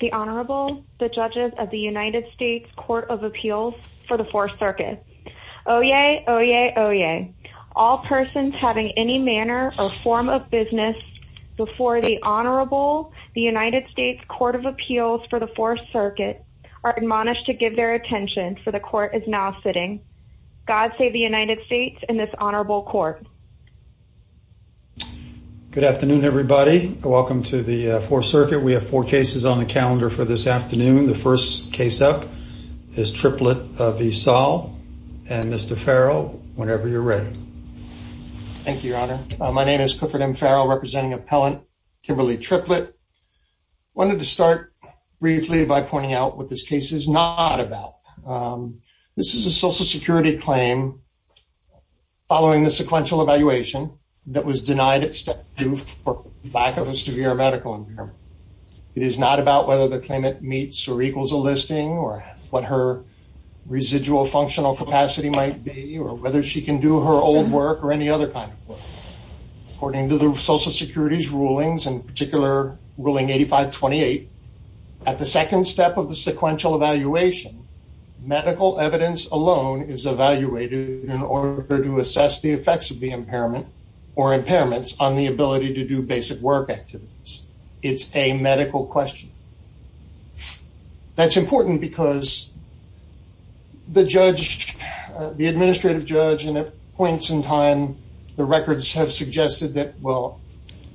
The Honorable, the judges of the United States Court of Appeals for the 4th Circuit. Oh yay, oh yay, oh yay. All persons having any manner or form of business before the Honorable, the United States Court of Appeals for the 4th Circuit are admonished to give their attention for the court is now sitting. God save the United States and this Honorable Court. Good afternoon everybody. Welcome to the 4th Circuit. We have four cases on the calendar for this afternoon. The first case up is Triplett v. Saul and Mr. Farrell, whenever you're ready. Thank you, Your Honor. My name is Clifford M. Farrell, representing appellant Kimberly Triplett. I wanted to start briefly by pointing out what this case is not about. This is a Social Security claim following the sequential evaluation that was denied at step 2 for lack of a severe medical impairment. It is not about whether the claimant meets or equals a listing or what her residual functional capacity might be or whether she can do her old work or any other kind of work. According to the Social Security's rulings, in particular ruling 8528, at the second step of the sequential evaluation, medical evidence alone is evaluated in order to assess the effects of the impairment or impairments on the ability to do basic work activities. It's a medical question. That's important because the judge, the administrative judge, and at points in time the records have suggested that, well,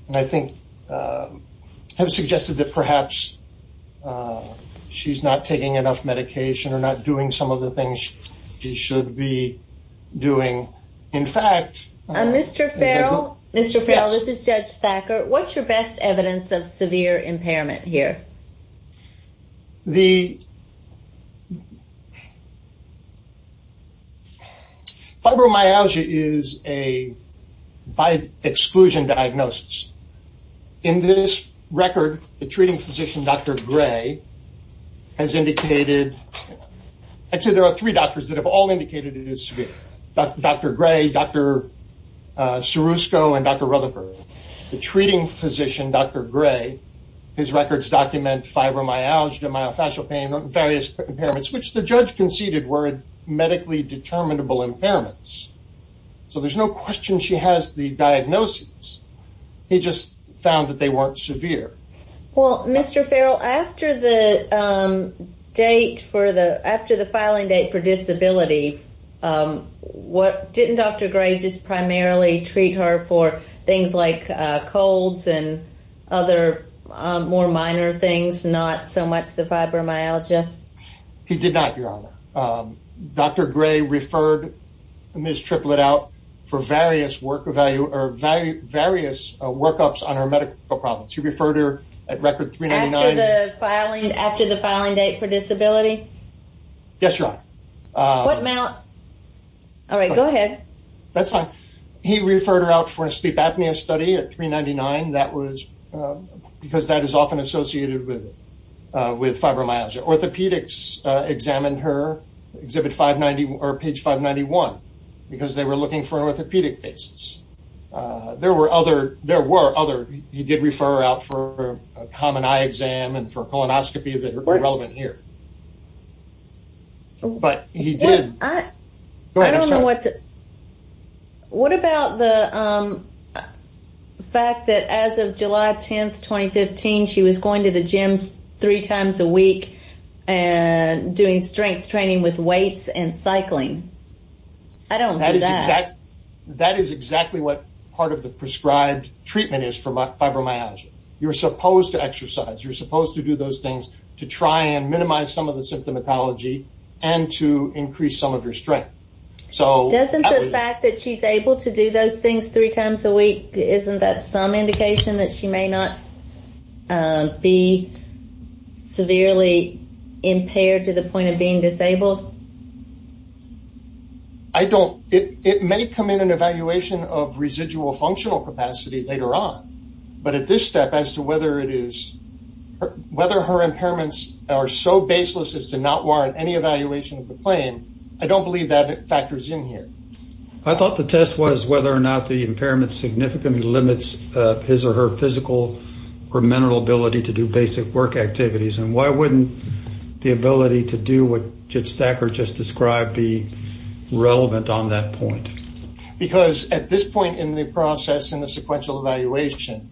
and I think have suggested that perhaps she's not taking enough medication or not doing some of the things she should be doing. In fact... Mr. Farrell, this is Judge Thacker, what's your best evidence of severe impairment here? The fibromyalgia is a by exclusion diagnosis. In this record, the treating physician, Dr. Gray, has indicated, actually there are three doctors that have all indicated it is severe. Dr. Gray, Dr. Srusco, and Dr. Rutherford. The treating physician, Dr. Gray, his records document fibromyalgia, myofascial pain, various impairments, which the judge conceded were medically determinable impairments. So there's no question she has the diagnosis. He just found that they weren't severe. Well, Mr. Farrell, after the date for the, after the filing date for disability, what, didn't Dr. Gray just primarily treat her for things like colds and other more minor things, not so much the fibromyalgia? He did not, Your Honor. Dr. Gray referred Ms. Triplett out for various work value, or various workups on her medical problems. He filed after the filing date for disability? Yes, Your Honor. All right, go ahead. That's fine. He referred her out for a sleep apnea study at 399. That was, because that is often associated with, with fibromyalgia. Orthopedics examined her, exhibit 590, or page 591, because they were looking for an orthopedic basis. There were other, there were other, he did refer her out for a common eye exam and for a colonoscopy that are relevant here. But he did. I don't know what, what about the fact that as of July 10th, 2015, she was going to the gyms three times a week and doing strength training with weights and cycling? I don't know that. That is exactly, that is exactly what part of the prescribed treatment is for fibromyalgia. You're supposed to do those things to try and minimize some of the symptomatology and to increase some of your strength. So, doesn't the fact that she's able to do those things three times a week, isn't that some indication that she may not be severely impaired to the point of being disabled? I don't, it may come in an evaluation of residual functional capacity later on, but at this step as to whether it is, whether her impairments are so baseless as to not warrant any evaluation of the claim, I don't believe that factors in here. I thought the test was whether or not the impairment significantly limits his or her physical or mental ability to do basic work activities, and why wouldn't the ability to do what Jit Stacker just described be relevant on that point? Because at this point in the process, in the sequential evaluation,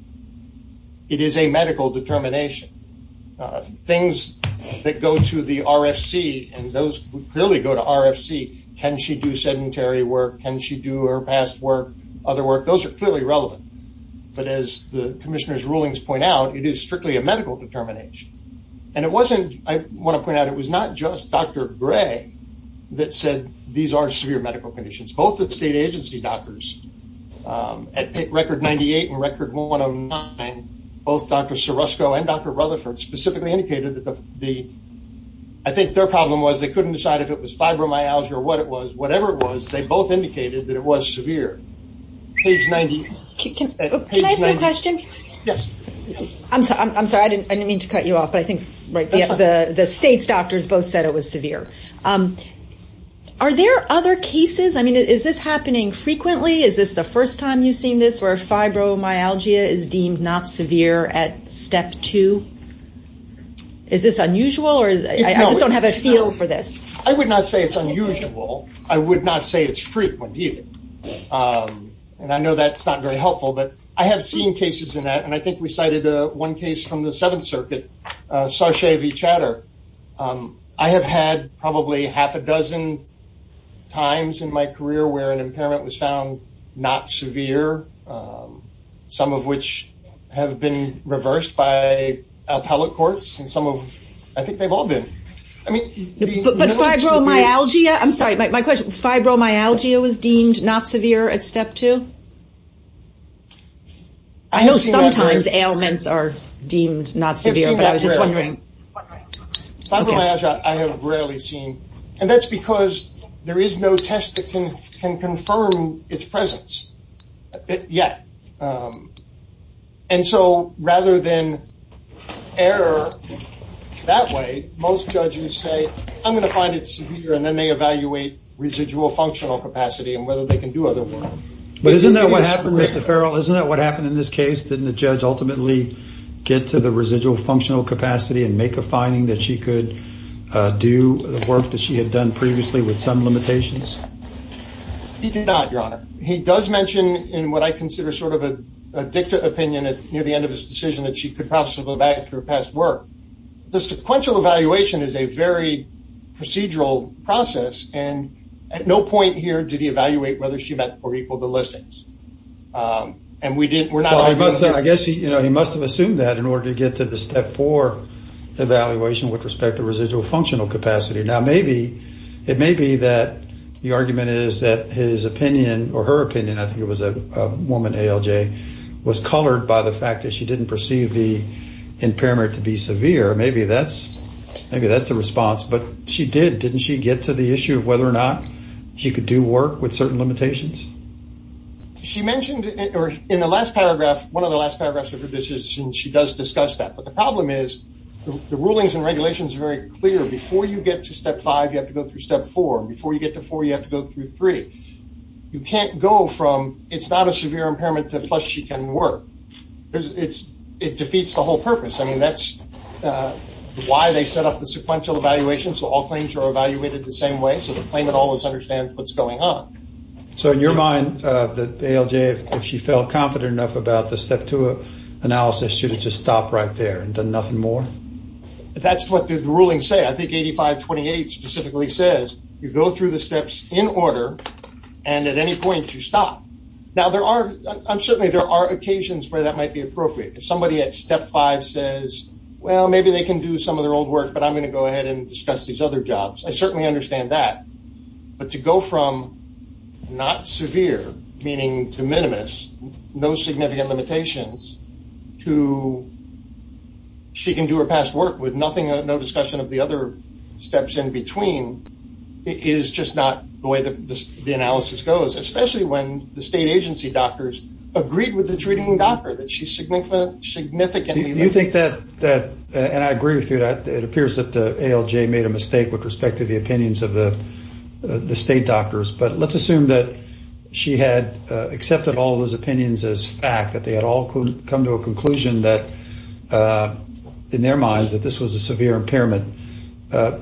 it is a medical determination. Things that go to the RFC, and those clearly go to RFC, can she do sedentary work, can she do her past work, other work, those are clearly relevant. But as the Commissioner's rulings point out, it is strictly a medical determination. And it wasn't, I want to point out, it was not just Dr. Gray that said these are severe medical conditions. Both the state agency doctors, at record 98 and record 109, both Dr. Sorosco and Dr. Rutherford specifically indicated that the, I think their problem was they couldn't decide if it was fibromyalgia or what it was, whatever it was, they both indicated that it was severe. Page 90. Can I ask you a question? Yes. I'm sorry, I didn't mean to cut you off, but I think the state's doctors both said it was severe. Are there other cases, I mean, is this happening frequently? Is this the first time you've seen this, where fibromyalgia is deemed not severe at step two? Is this unusual, or I just don't have a feel for this? I would not say it's unusual. I would not say it's frequent, either. And I know that's not very helpful, but I have seen cases in that, and I think we cited one case from the I've had probably half a dozen times in my career where an impairment was found not severe, some of which have been reversed by appellate courts, and some of, I think they've all been. I mean, the But fibromyalgia, I'm sorry, my question, fibromyalgia was deemed not severe at step two? I know sometimes ailments are deemed not severe, but I was just wondering. Fibromyalgia, I have rarely seen, and that's because there is no test that can confirm its presence yet. And so rather than error that way, most judges say, I'm going to find it severe, and then they evaluate residual functional capacity and whether they can do otherwise. But isn't that what happened, Mr. Farrell? Isn't that what happened in this case? Didn't the judge ultimately get to the residual functional capacity and make a finding that she could do the work that she had done previously with some limitations? He did not, Your Honor. He does mention in what I consider sort of a dicta opinion at near the end of his decision that she could possibly go back to her past work. The sequential evaluation is a very procedural process, and at no point here did he evaluate whether she met or equaled the listings. I guess he must have assumed that in order to get to the step four evaluation with respect to residual functional capacity. Now, it may be that the argument is that his opinion, or her opinion, I think it was a woman, ALJ, was colored by the fact that she didn't perceive the impairment to be severe. Maybe that's the response, but she did. Didn't she get to the issue of whether or not she could do work with certain limitations? She mentioned in the last paragraph, one of the last paragraphs of her decision, she does discuss that. But the problem is the rulings and regulations are very clear. Before you get to step five, you have to go through step four. Before you get to four, you have to go through three. You can't go from it's not a severe impairment to plus she can work. It defeats the whole purpose. That's why they set up the sequential evaluation, so all claims are evaluated the same way, so the claimant always understands what's going on. In your mind, ALJ, if she felt confident enough about the step two analysis, should have just stopped right there and done nothing more? That's what the rulings say. I think 8528 specifically says, you go through the steps in order, and at any point, you stop. Now, certainly there are occasions where that well, maybe they can do some of their old work, but I'm going to go ahead and discuss these other jobs. I certainly understand that. But to go from not severe, meaning to minimus, no significant limitations, to she can do her past work with nothing, no discussion of the other steps in between, is just not the way the analysis goes, especially when the state agency doctors agreed with the treating doctor that she's significantly... Do you think that, and I agree with you, it appears that the ALJ made a mistake with respect to the opinions of the state doctors, but let's assume that she had accepted all those opinions as fact, that they had all come to a conclusion that, in their minds, that this was a severe impairment. But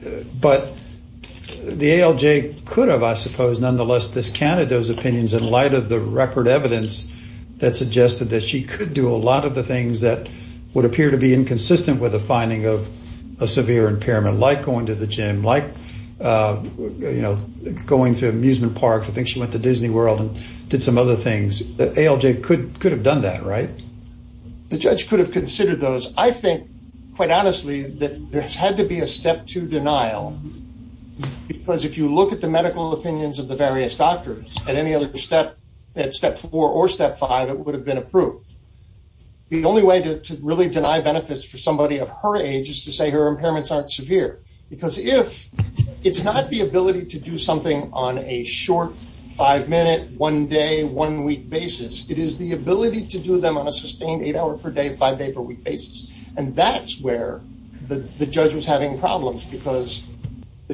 the ALJ could have, I suppose, nonetheless, discounted those opinions in light of the record evidence that suggested that she could do a lot of the things that would appear to be inconsistent with the finding of a severe impairment, like going to the gym, like going to amusement parks. I think she went to Disney World and did some other things. ALJ could have done that, right? The judge could have considered those. I think, quite honestly, that there's had to be a step two denial, because if you look at the medical opinions of the various doctors, at any other step, at step four or step five, it would have been approved. The only way to really deny benefits for somebody of her age is to say her impairments aren't severe, because if... It's not the ability to do something on a short five-minute, one-day, one-week basis. It is the ability to do them on a sustained eight-hour-per-day, five-day-per-week basis, and that's where the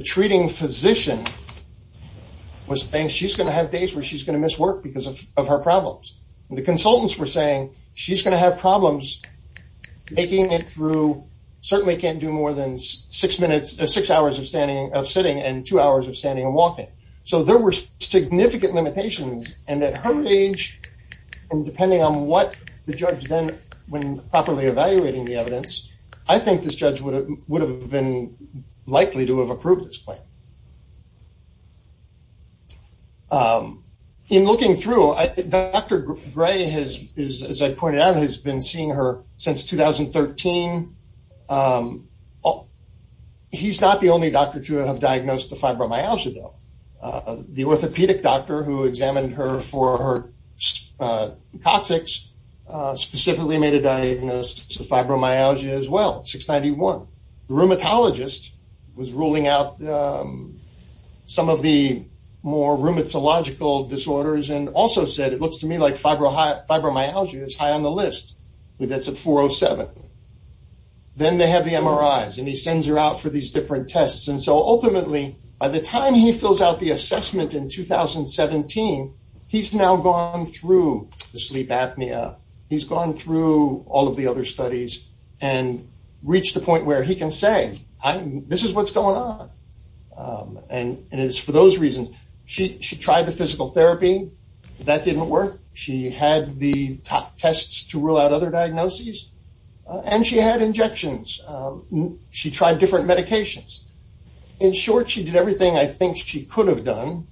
treating physician was saying she's going to have days where she's going to miss work because of her problems. The consultants were saying she's going to have problems making it through... Certainly can't do more than six hours of sitting and two hours of standing and walking. So there were significant limitations, and at her age, and depending on what the judge then, when properly evaluating the evidence, I think this judge would have been likely to have approved this plan. In looking through, Dr. Gray, as I pointed out, has been seeing her since 2013. He's not the only doctor to have diagnosed the fibromyalgia, though. The orthopedic doctor who examined her for her toxics specifically made a diagnosis of fibromyalgia as well, 691. The rheumatologist was ruling out some of the more rheumatological disorders and also said, it looks to me like fibromyalgia is high on the list. That's a 407. Then they have the MRIs, and he sends her out for these different tests. Ultimately, by the time he fills out the assessment in 2017, he's now gone through the sleep apnea. He's gone through all of the other studies and reached the point where he can say, this is what's going on, and it's for those reasons. She tried the physical therapy. That didn't work. She had the top tests to rule out other diagnoses, and she had injections. She tried different medications. In short, she did everything I think she could have done,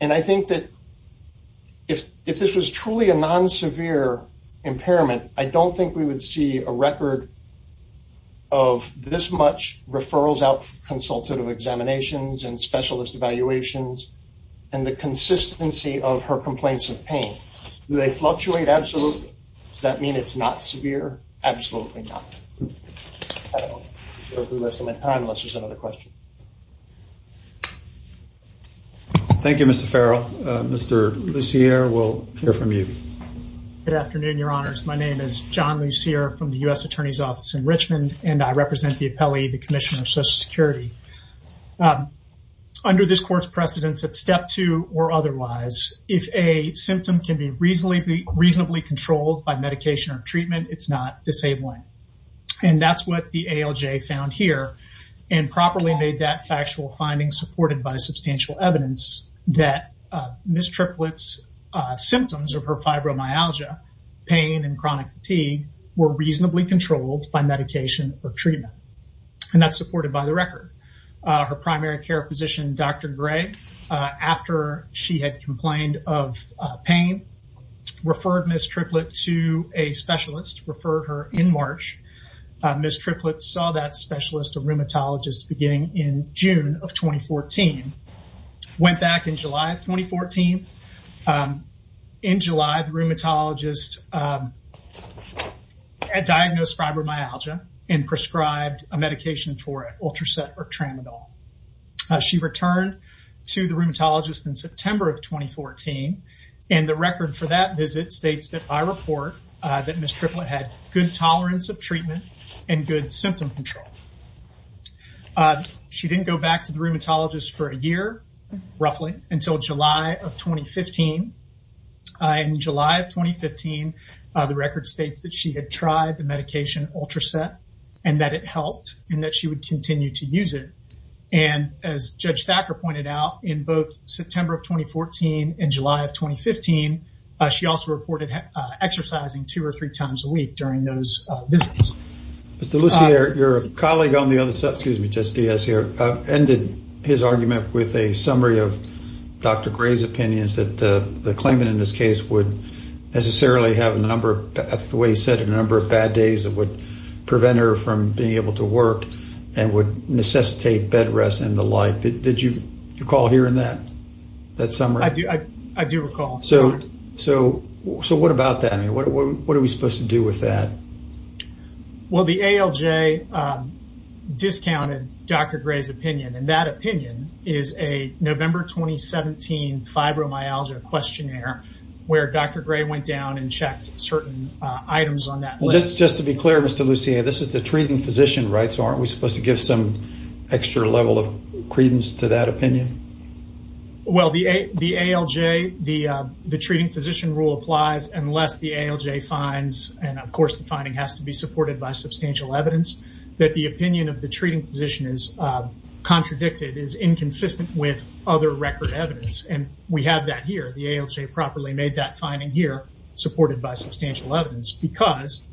and I think that if this was truly a non-severe impairment, I don't think we would see a record of this much referrals out for consultative examinations and specialist evaluations and the consistency of her complaints of pain. Do they fluctuate? Absolutely. Does that mean it's not severe? Absolutely not. I don't want to waste my time unless there's another question. Thank you, Mr. Farrell. Mr. Lussier will hear from you. Good afternoon, Your Honors. My name is John Lussier from the U.S. Attorney's Office in Richmond, and I represent the appellee, the Commissioner of Social Security. Under this court's precedence at step two or otherwise, if a symptom can be reasonably controlled by medication or treatment, it's not disabling. That's what the ALJ found here and properly made that factual finding supported by substantial evidence that Ms. Triplett's symptoms of her fibromyalgia, pain, and chronic fatigue were reasonably controlled by medication or treatment, and that's supported by the record. Her primary care physician, Dr. Gray, after she had complained of pain, referred Ms. Triplett to a specialist, referred her in March. Ms. Triplett saw that specialist, a rheumatologist, beginning in June of 2014, went back in July of 2014. In July, the rheumatologist diagnosed fibromyalgia and prescribed a medication for it, Ultraset or Tramadol. She returned to the rheumatologist in September of 2014, and the record for that visit states that I report that Ms. Triplett had good tolerance of treatment and good symptom control. She didn't go back to the rheumatologist for a year, roughly, until July of 2015. In July of 2015, the record states that she had tried the medication Ultraset and that it helped and that she would continue to use it. As Judge Thacker pointed out, in both September of 2014 and July of 2015, she also reported exercising two or three times a week during those visits. Mr. Lussier, your colleague on the other side, excuse me, Judge Diaz here, ended his argument with a summary of Dr. Gray's opinions that the claimant in this case would necessarily have a number of, the way he said, a number of bad days that would prevent her from being able to work and would necessitate bed rest and the like. Did you recall hearing that summary? I do recall. So what about that? What are we supposed to do with that? Well, the ALJ discounted Dr. Gray's opinion, and that opinion is a November 2017 fibromyalgia questionnaire where Dr. Gray went down and checked certain items on that list. Just to be clear, Mr. Lussier, this is the treating physician, right? So aren't we supposed to give some extra level of credence to that opinion? Well, the ALJ, the treating physician rule applies unless the ALJ finds, and of course, the finding has to be supported by substantial evidence, that the opinion of the treating physician is contradicted, is inconsistent with other record evidence. And we have that here. The ALJ properly made that finding here supported by substantial evidence because,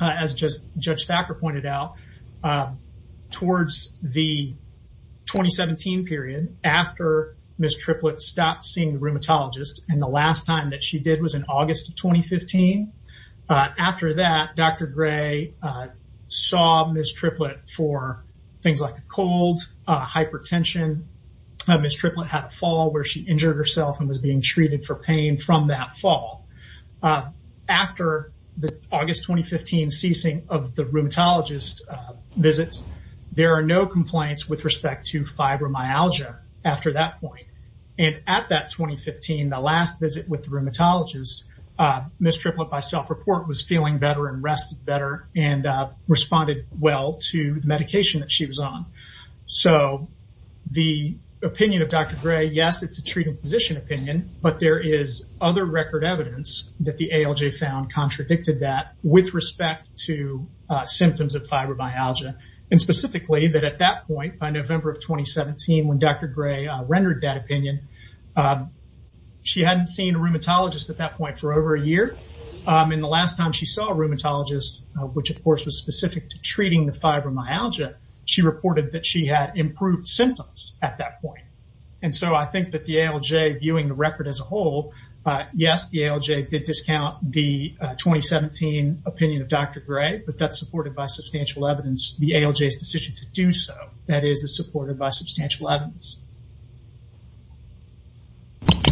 as just Judge Thacker pointed out, towards the 2017 period, after Ms. Triplett stopped seeing the rheumatologist, and the last time that she did was in August of 2015, after that, Dr. Gray saw Ms. Triplett for things like a cold, hypertension, Ms. Triplett had a fall where she injured herself and was being treated for pain from that fall. After the August 2015 ceasing of the rheumatologist visits, there are no complaints with respect to fibromyalgia after that point. And at that 2015, the last visit with the rheumatologist, Ms. Triplett, by self-report, was feeling better and rested better and responded well to the medication that she was on. So the opinion of Dr. Gray, yes, it's a treating physician opinion, but there is other record evidence that the ALJ found contradicted that with respect to symptoms of fibromyalgia. And specifically that at that point, by November of 2017, when Dr. Gray rendered that opinion, she hadn't seen a rheumatologist at that point for over a year. And the last time she saw a rheumatologist, which of course was specific to treating the fibromyalgia, she reported that she had improved symptoms at that point. And so I think that the as a whole, yes, the ALJ did discount the 2017 opinion of Dr. Gray, but that's supported by substantial evidence. The ALJ's decision to do so, that is supported by substantial evidence.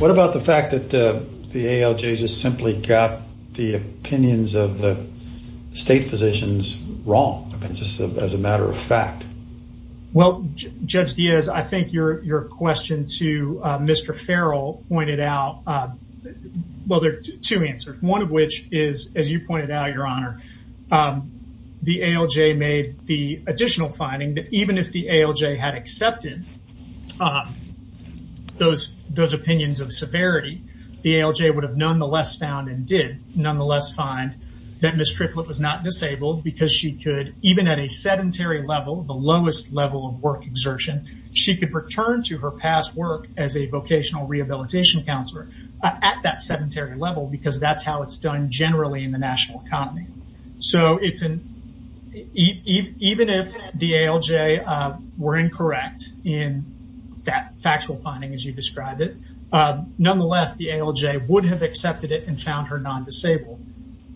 What about the fact that the ALJ just simply got the opinions of the state physicians wrong, just as a matter of fact? Well, Judge Diaz, I think your question to out, well, there are two answers. One of which is, as you pointed out, Your Honor, the ALJ made the additional finding that even if the ALJ had accepted those opinions of severity, the ALJ would have nonetheless found and did nonetheless find that Ms. Triplett was not disabled because she could, even at a sedentary level, the lowest level of work exertion, she could return to her past work as a vocational rehabilitation counselor at that sedentary level because that's how it's done generally in the national economy. So even if the ALJ were incorrect in that factual finding, as you described it, nonetheless, the ALJ would have accepted it and found her non-disabled.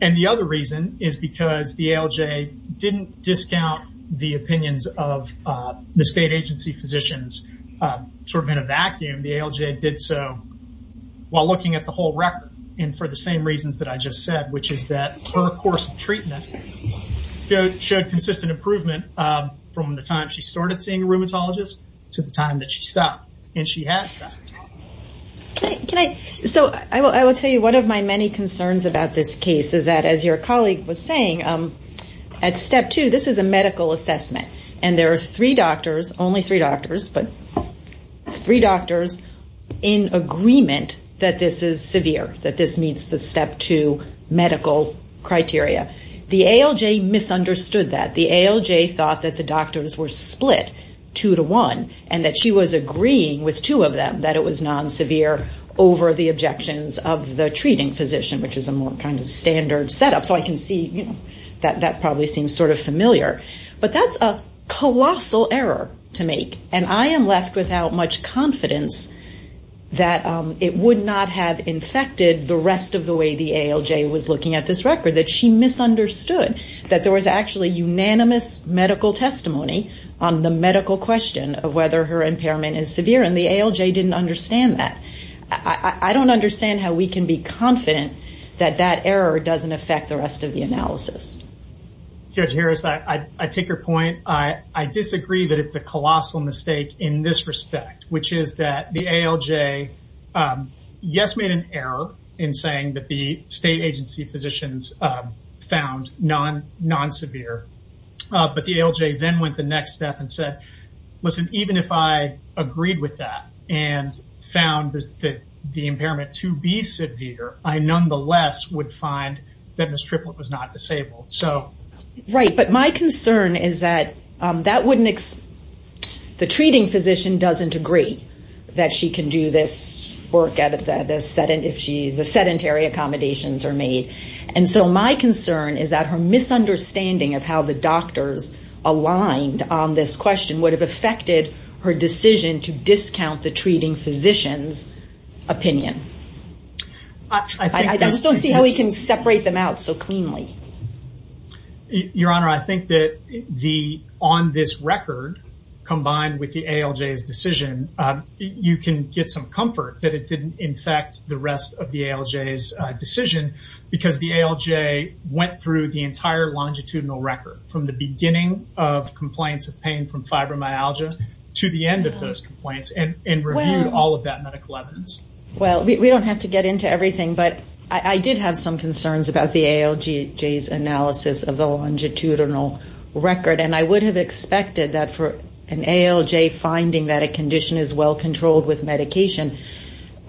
And the other reason is because the ALJ didn't discount the opinions of the state agency physicians sort of in a vacuum. The ALJ did so while looking at the whole record and for the same reasons that I just said, which is that her course of treatment showed consistent improvement from the time she started seeing a rheumatologist to the time that she stopped and she had stopped. So I will tell you one of my many At step two, this is a medical assessment and there are three doctors, only three doctors, but three doctors in agreement that this is severe, that this meets the step two medical criteria. The ALJ misunderstood that. The ALJ thought that the doctors were split two to one and that she was agreeing with two of them that it was non-severe over the objections of the treating physician, which is a more kind of standard setup. So I can see that that probably seems sort of familiar, but that's a colossal error to make. And I am left without much confidence that it would not have infected the rest of the way the ALJ was looking at this record, that she misunderstood that there was actually unanimous medical testimony on the medical question of whether her impairment is severe and the ALJ didn't understand that. I don't understand how we can be confident that that error doesn't affect the rest of the analysis. Judge Harris, I take your point. I disagree that it's a colossal mistake in this respect, which is that the ALJ, yes, made an error in saying that the state agency physicians found non-severe, but the ALJ then went the next step and said, listen, even if I agreed with that and found that the impairment to be severe, I nonetheless would find that Ms. Triplett was not disabled. Right, but my concern is that the treating physician doesn't agree that she can do this work if the sedentary accommodations are made. And so my concern is that her misunderstanding of how the doctors aligned on this question would have affected her decision to discount the treating physician's opinion. I just don't see how we can separate them out so cleanly. Your Honor, I think that on this record, combined with the ALJ's decision, you can get some comfort that it didn't infect the rest of the ALJ's decision because the ALJ went through the entire longitudinal record from the beginning of complaints of pain from all of that medical evidence. Well, we don't have to get into everything, but I did have some concerns about the ALJ's analysis of the longitudinal record. And I would have expected that for an ALJ finding that a condition is well controlled with medication,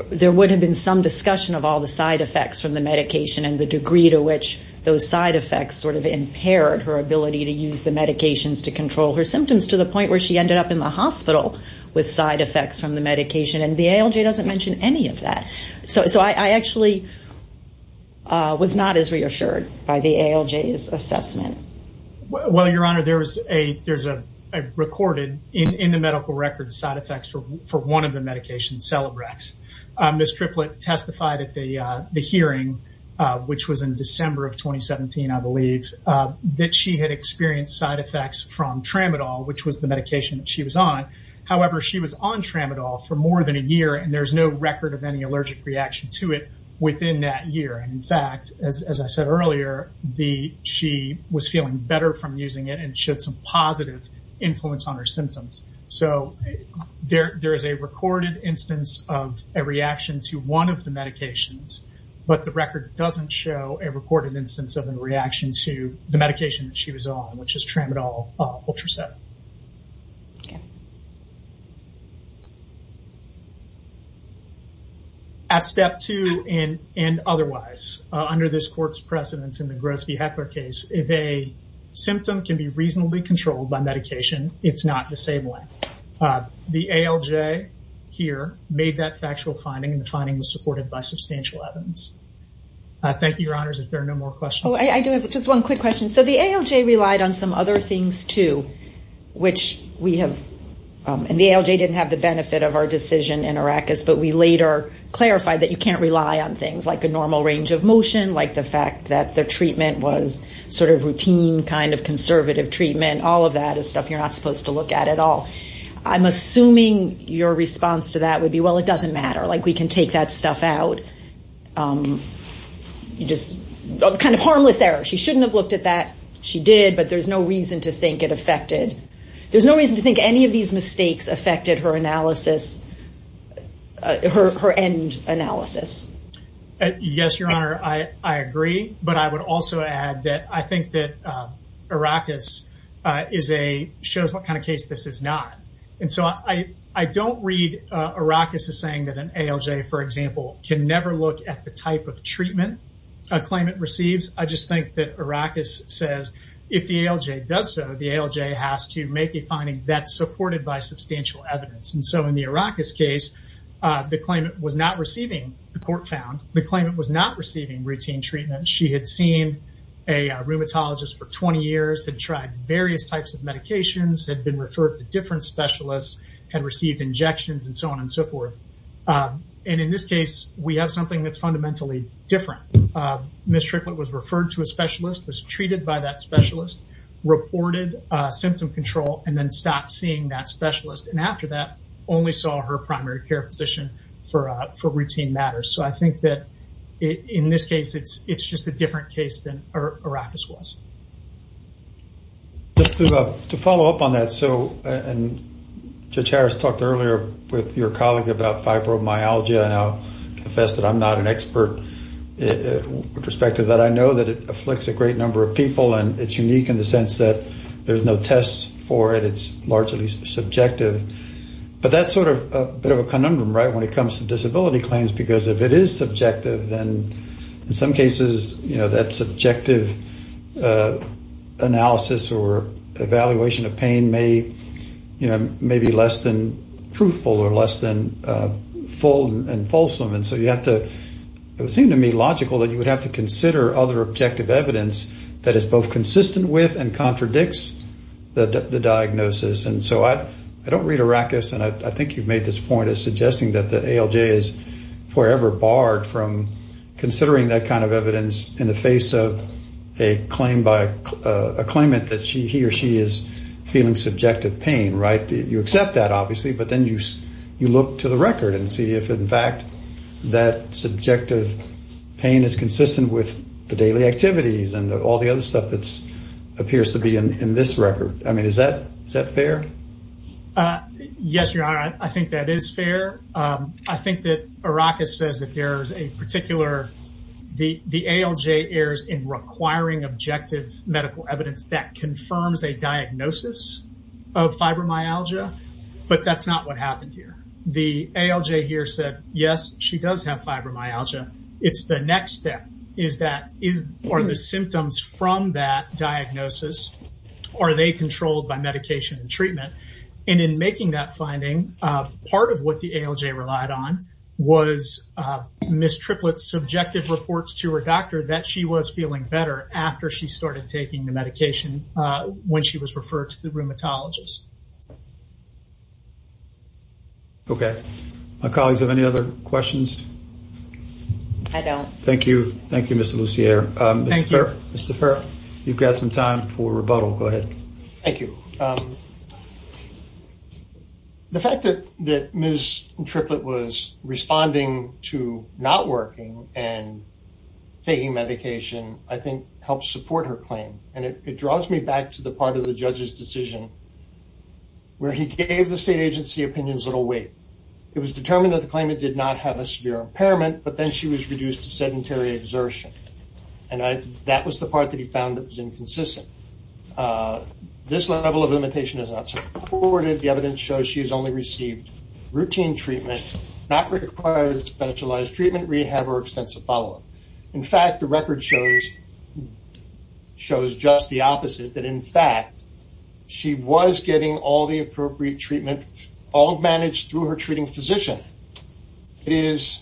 there would have been some discussion of all the side effects from the medication and the degree to which those side effects sort of impaired her ability to use the medications to control her symptoms to the point where she ended up in the hospital with side effects from the medication. And the ALJ doesn't mention any of that. So I actually was not as reassured by the ALJ's assessment. Well, Your Honor, there's a recorded in the medical record side effects for one of the medications, Celebrex. Ms. Triplett testified at the hearing, which was in December of 2017, I believe, that she had experienced side effects from Tramadol, which was the medication that she was on. However, she was on Tramadol for more than a year and there's no record of any allergic reaction to it within that year. And in fact, as I said earlier, she was feeling better from using it and showed some positive influence on her symptoms. So there is a recorded instance of a reaction to one of the medications, but the record doesn't show a recorded instance of a reaction to the medication that she was on, which is Tramadol Ultraset. At step two and otherwise, under this court's precedence in the Gross v. Heckler case, if a symptom can be reasonably controlled by medication, it's not disabling. The ALJ here made that factual finding and the finding was supported by substantial evidence. Thank you, your honors, if there are no more questions. Oh, I do have just one quick question. So the ALJ relied on some other things too, which we have, and the ALJ didn't have the benefit of our decision in Arrakis, but we later clarified that you can't rely on things like a normal range of motion, like the fact that the treatment was sort of routine kind of conservative treatment. All of that is stuff you're not would be, well, it doesn't matter. Like we can take that stuff out. You just kind of harmless error. She shouldn't have looked at that. She did, but there's no reason to think it affected. There's no reason to think any of these mistakes affected her analysis, her end analysis. Yes, your honor. I agree. But I would also add that I think that Arrakis is a, shows what kind of case this is not. And so I don't read Arrakis as saying that an ALJ, for example, can never look at the type of treatment a claimant receives. I just think that Arrakis says, if the ALJ does so, the ALJ has to make a finding that's supported by substantial evidence. And so in the Arrakis case, the claimant was not receiving, the court found, the claimant was not receiving routine treatment. She had seen a rheumatologist for 20 years, had tried various types of medications, had been referred to different specialists, had received injections, and so on and so forth. And in this case, we have something that's fundamentally different. Ms. Tricklett was referred to a specialist, was treated by that specialist, reported symptom control, and then stopped seeing that specialist. And after that, only saw her primary care physician for routine matters. So I think that in this case, it's just a different case than Arrakis was. Just to follow up on that, so, and Judge Harris talked earlier with your colleague about fibromyalgia, and I'll confess that I'm not an expert with respect to that. I know that it afflicts a great number of people, and it's unique in the sense that there's no tests for it. It's largely subjective. But that's sort of a bit of a conundrum, right, when it comes to disability claims, because if it is subjective, then in some cases, you know, that subjective analysis or evaluation of pain may, you know, may be less than truthful or less than full and fulsome. And so you have to, it would seem to me logical that you would have to consider other diagnoses. And so I don't read Arrakis, and I think you've made this point as suggesting that ALJ is forever barred from considering that kind of evidence in the face of a claim by, a claimant that she, he or she is feeling subjective pain, right? You accept that, obviously, but then you look to the record and see if, in fact, that subjective pain is consistent with the daily activities and all the other stuff that appears to be in this record. I mean, is that fair? Yes, Your Honor, I think that is fair. I think that Arrakis says that there's a particular, the ALJ errs in requiring objective medical evidence that confirms a diagnosis of fibromyalgia, but that's not what happened here. The ALJ here said, yes, she does have fibromyalgia. It's the next step, is that, are the symptoms from that diagnosis, are they controlled by medication and treatment? And in making that finding, part of what the ALJ relied on was Ms. Triplett's subjective reports to her doctor that she was feeling better after she started taking the medication when she was referred to the rheumatologist. Okay. My colleagues have any other questions? I don't. Thank you. Thank you, Mr. Lussier. Mr. Fair, you've got some time for rebuttal. Go ahead. Thank you. The fact that Ms. Triplett was responding to not working and taking medication, I think, helps support her claim. And it draws me back to the part of the judge's decision where he gave the state agency opinions that will wait. It was determined that the claimant did not have a severe impairment, but then she was reduced to sedentary exertion. And that was the part that he found that was inconsistent. This level of limitation is not supported. The evidence shows she has only received routine treatment, not required specialized treatment, rehab, or extensive follow-up. In fact, the record shows just the opposite, that in fact, she was getting all the appropriate treatment, all managed through her treating physician. It is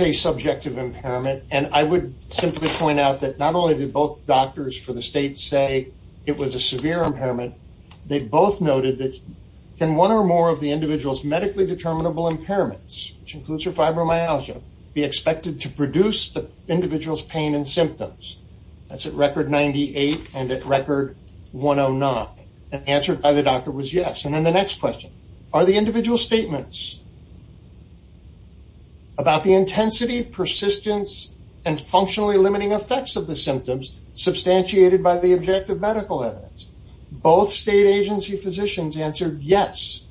a subjective impairment. And I would simply point out that not only did both doctors for the state say it was a severe impairment, they both noted that can one or more of the individual's medically determinable impairments, which includes her fibromyalgia, be expected to produce the individual's pain and symptoms? That's at record 98 and at record 109. And the answer by the doctor was yes. And then the next question, are the individual statements about the intensity, persistence, and functionally limiting effects of the symptoms substantiated by the objective medical evidence? Both state agency physicians answered yes.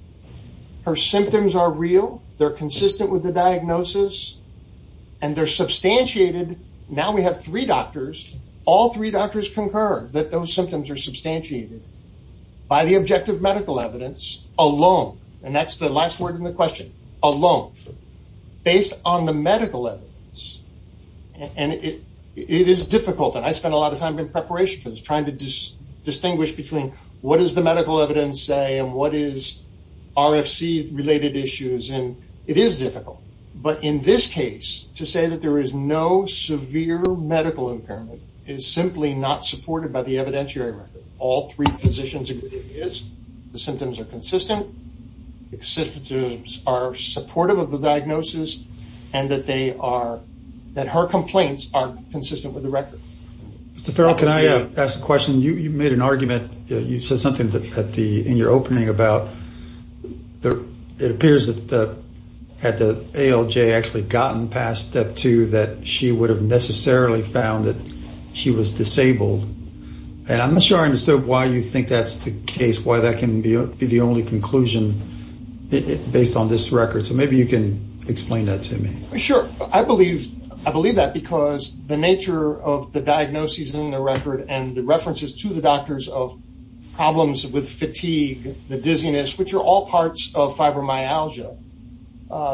Her symptoms are real. They're consistent with the diagnosis. And they're substantiated. Now we have three doctors. All three doctors concur that those symptoms are substantiated by the objective medical evidence alone. And that's the last word in the question, alone, based on the medical evidence. And it is difficult. And I spent a lot of time in preparation for this, trying to distinguish between what does the medical evidence say and what is RFC-related issues. And it is to say that there is no severe medical impairment is simply not supported by the evidentiary record. All three physicians agree it is. The symptoms are consistent. The symptoms are supportive of the diagnosis. And that they are, that her complaints are consistent with the record. Mr. Farrell, can I ask a question? You made an argument, you said something in your opening about, it appears that had the ALJ actually gotten past step two, that she would have necessarily found that she was disabled. And I'm not sure I understood why you think that's the case, why that can be the only conclusion based on this record. So maybe you can explain that to me. Sure. I believe that because the nature of the problems with fatigue, the dizziness, which are all parts of fibromyalgia,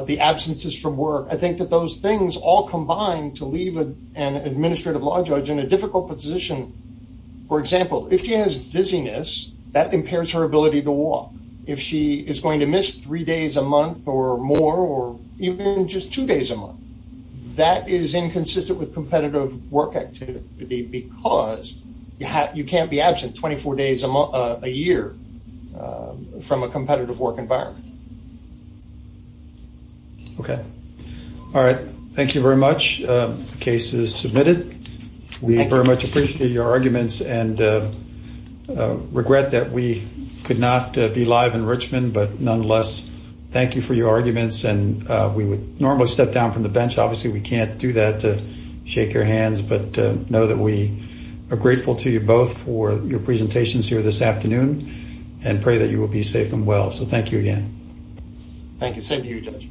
the absences from work, I think that those things all combine to leave an administrative law judge in a difficult position. For example, if she has dizziness, that impairs her ability to walk. If she is going to miss three days a month or more, or even just two days a month, that is inconsistent with competitive work activity because you can't be absent 24 days a year from a competitive work environment. Okay. All right. Thank you very much. The case is submitted. We very much appreciate your arguments and regret that we could not be live in Richmond, but nonetheless, thank you for your arguments. And we would normally step down the bench. Obviously, we can't do that to shake your hands, but know that we are grateful to you both for your presentations here this afternoon and pray that you will be safe and well. So thank you again. Thank you. Same to you, Judge.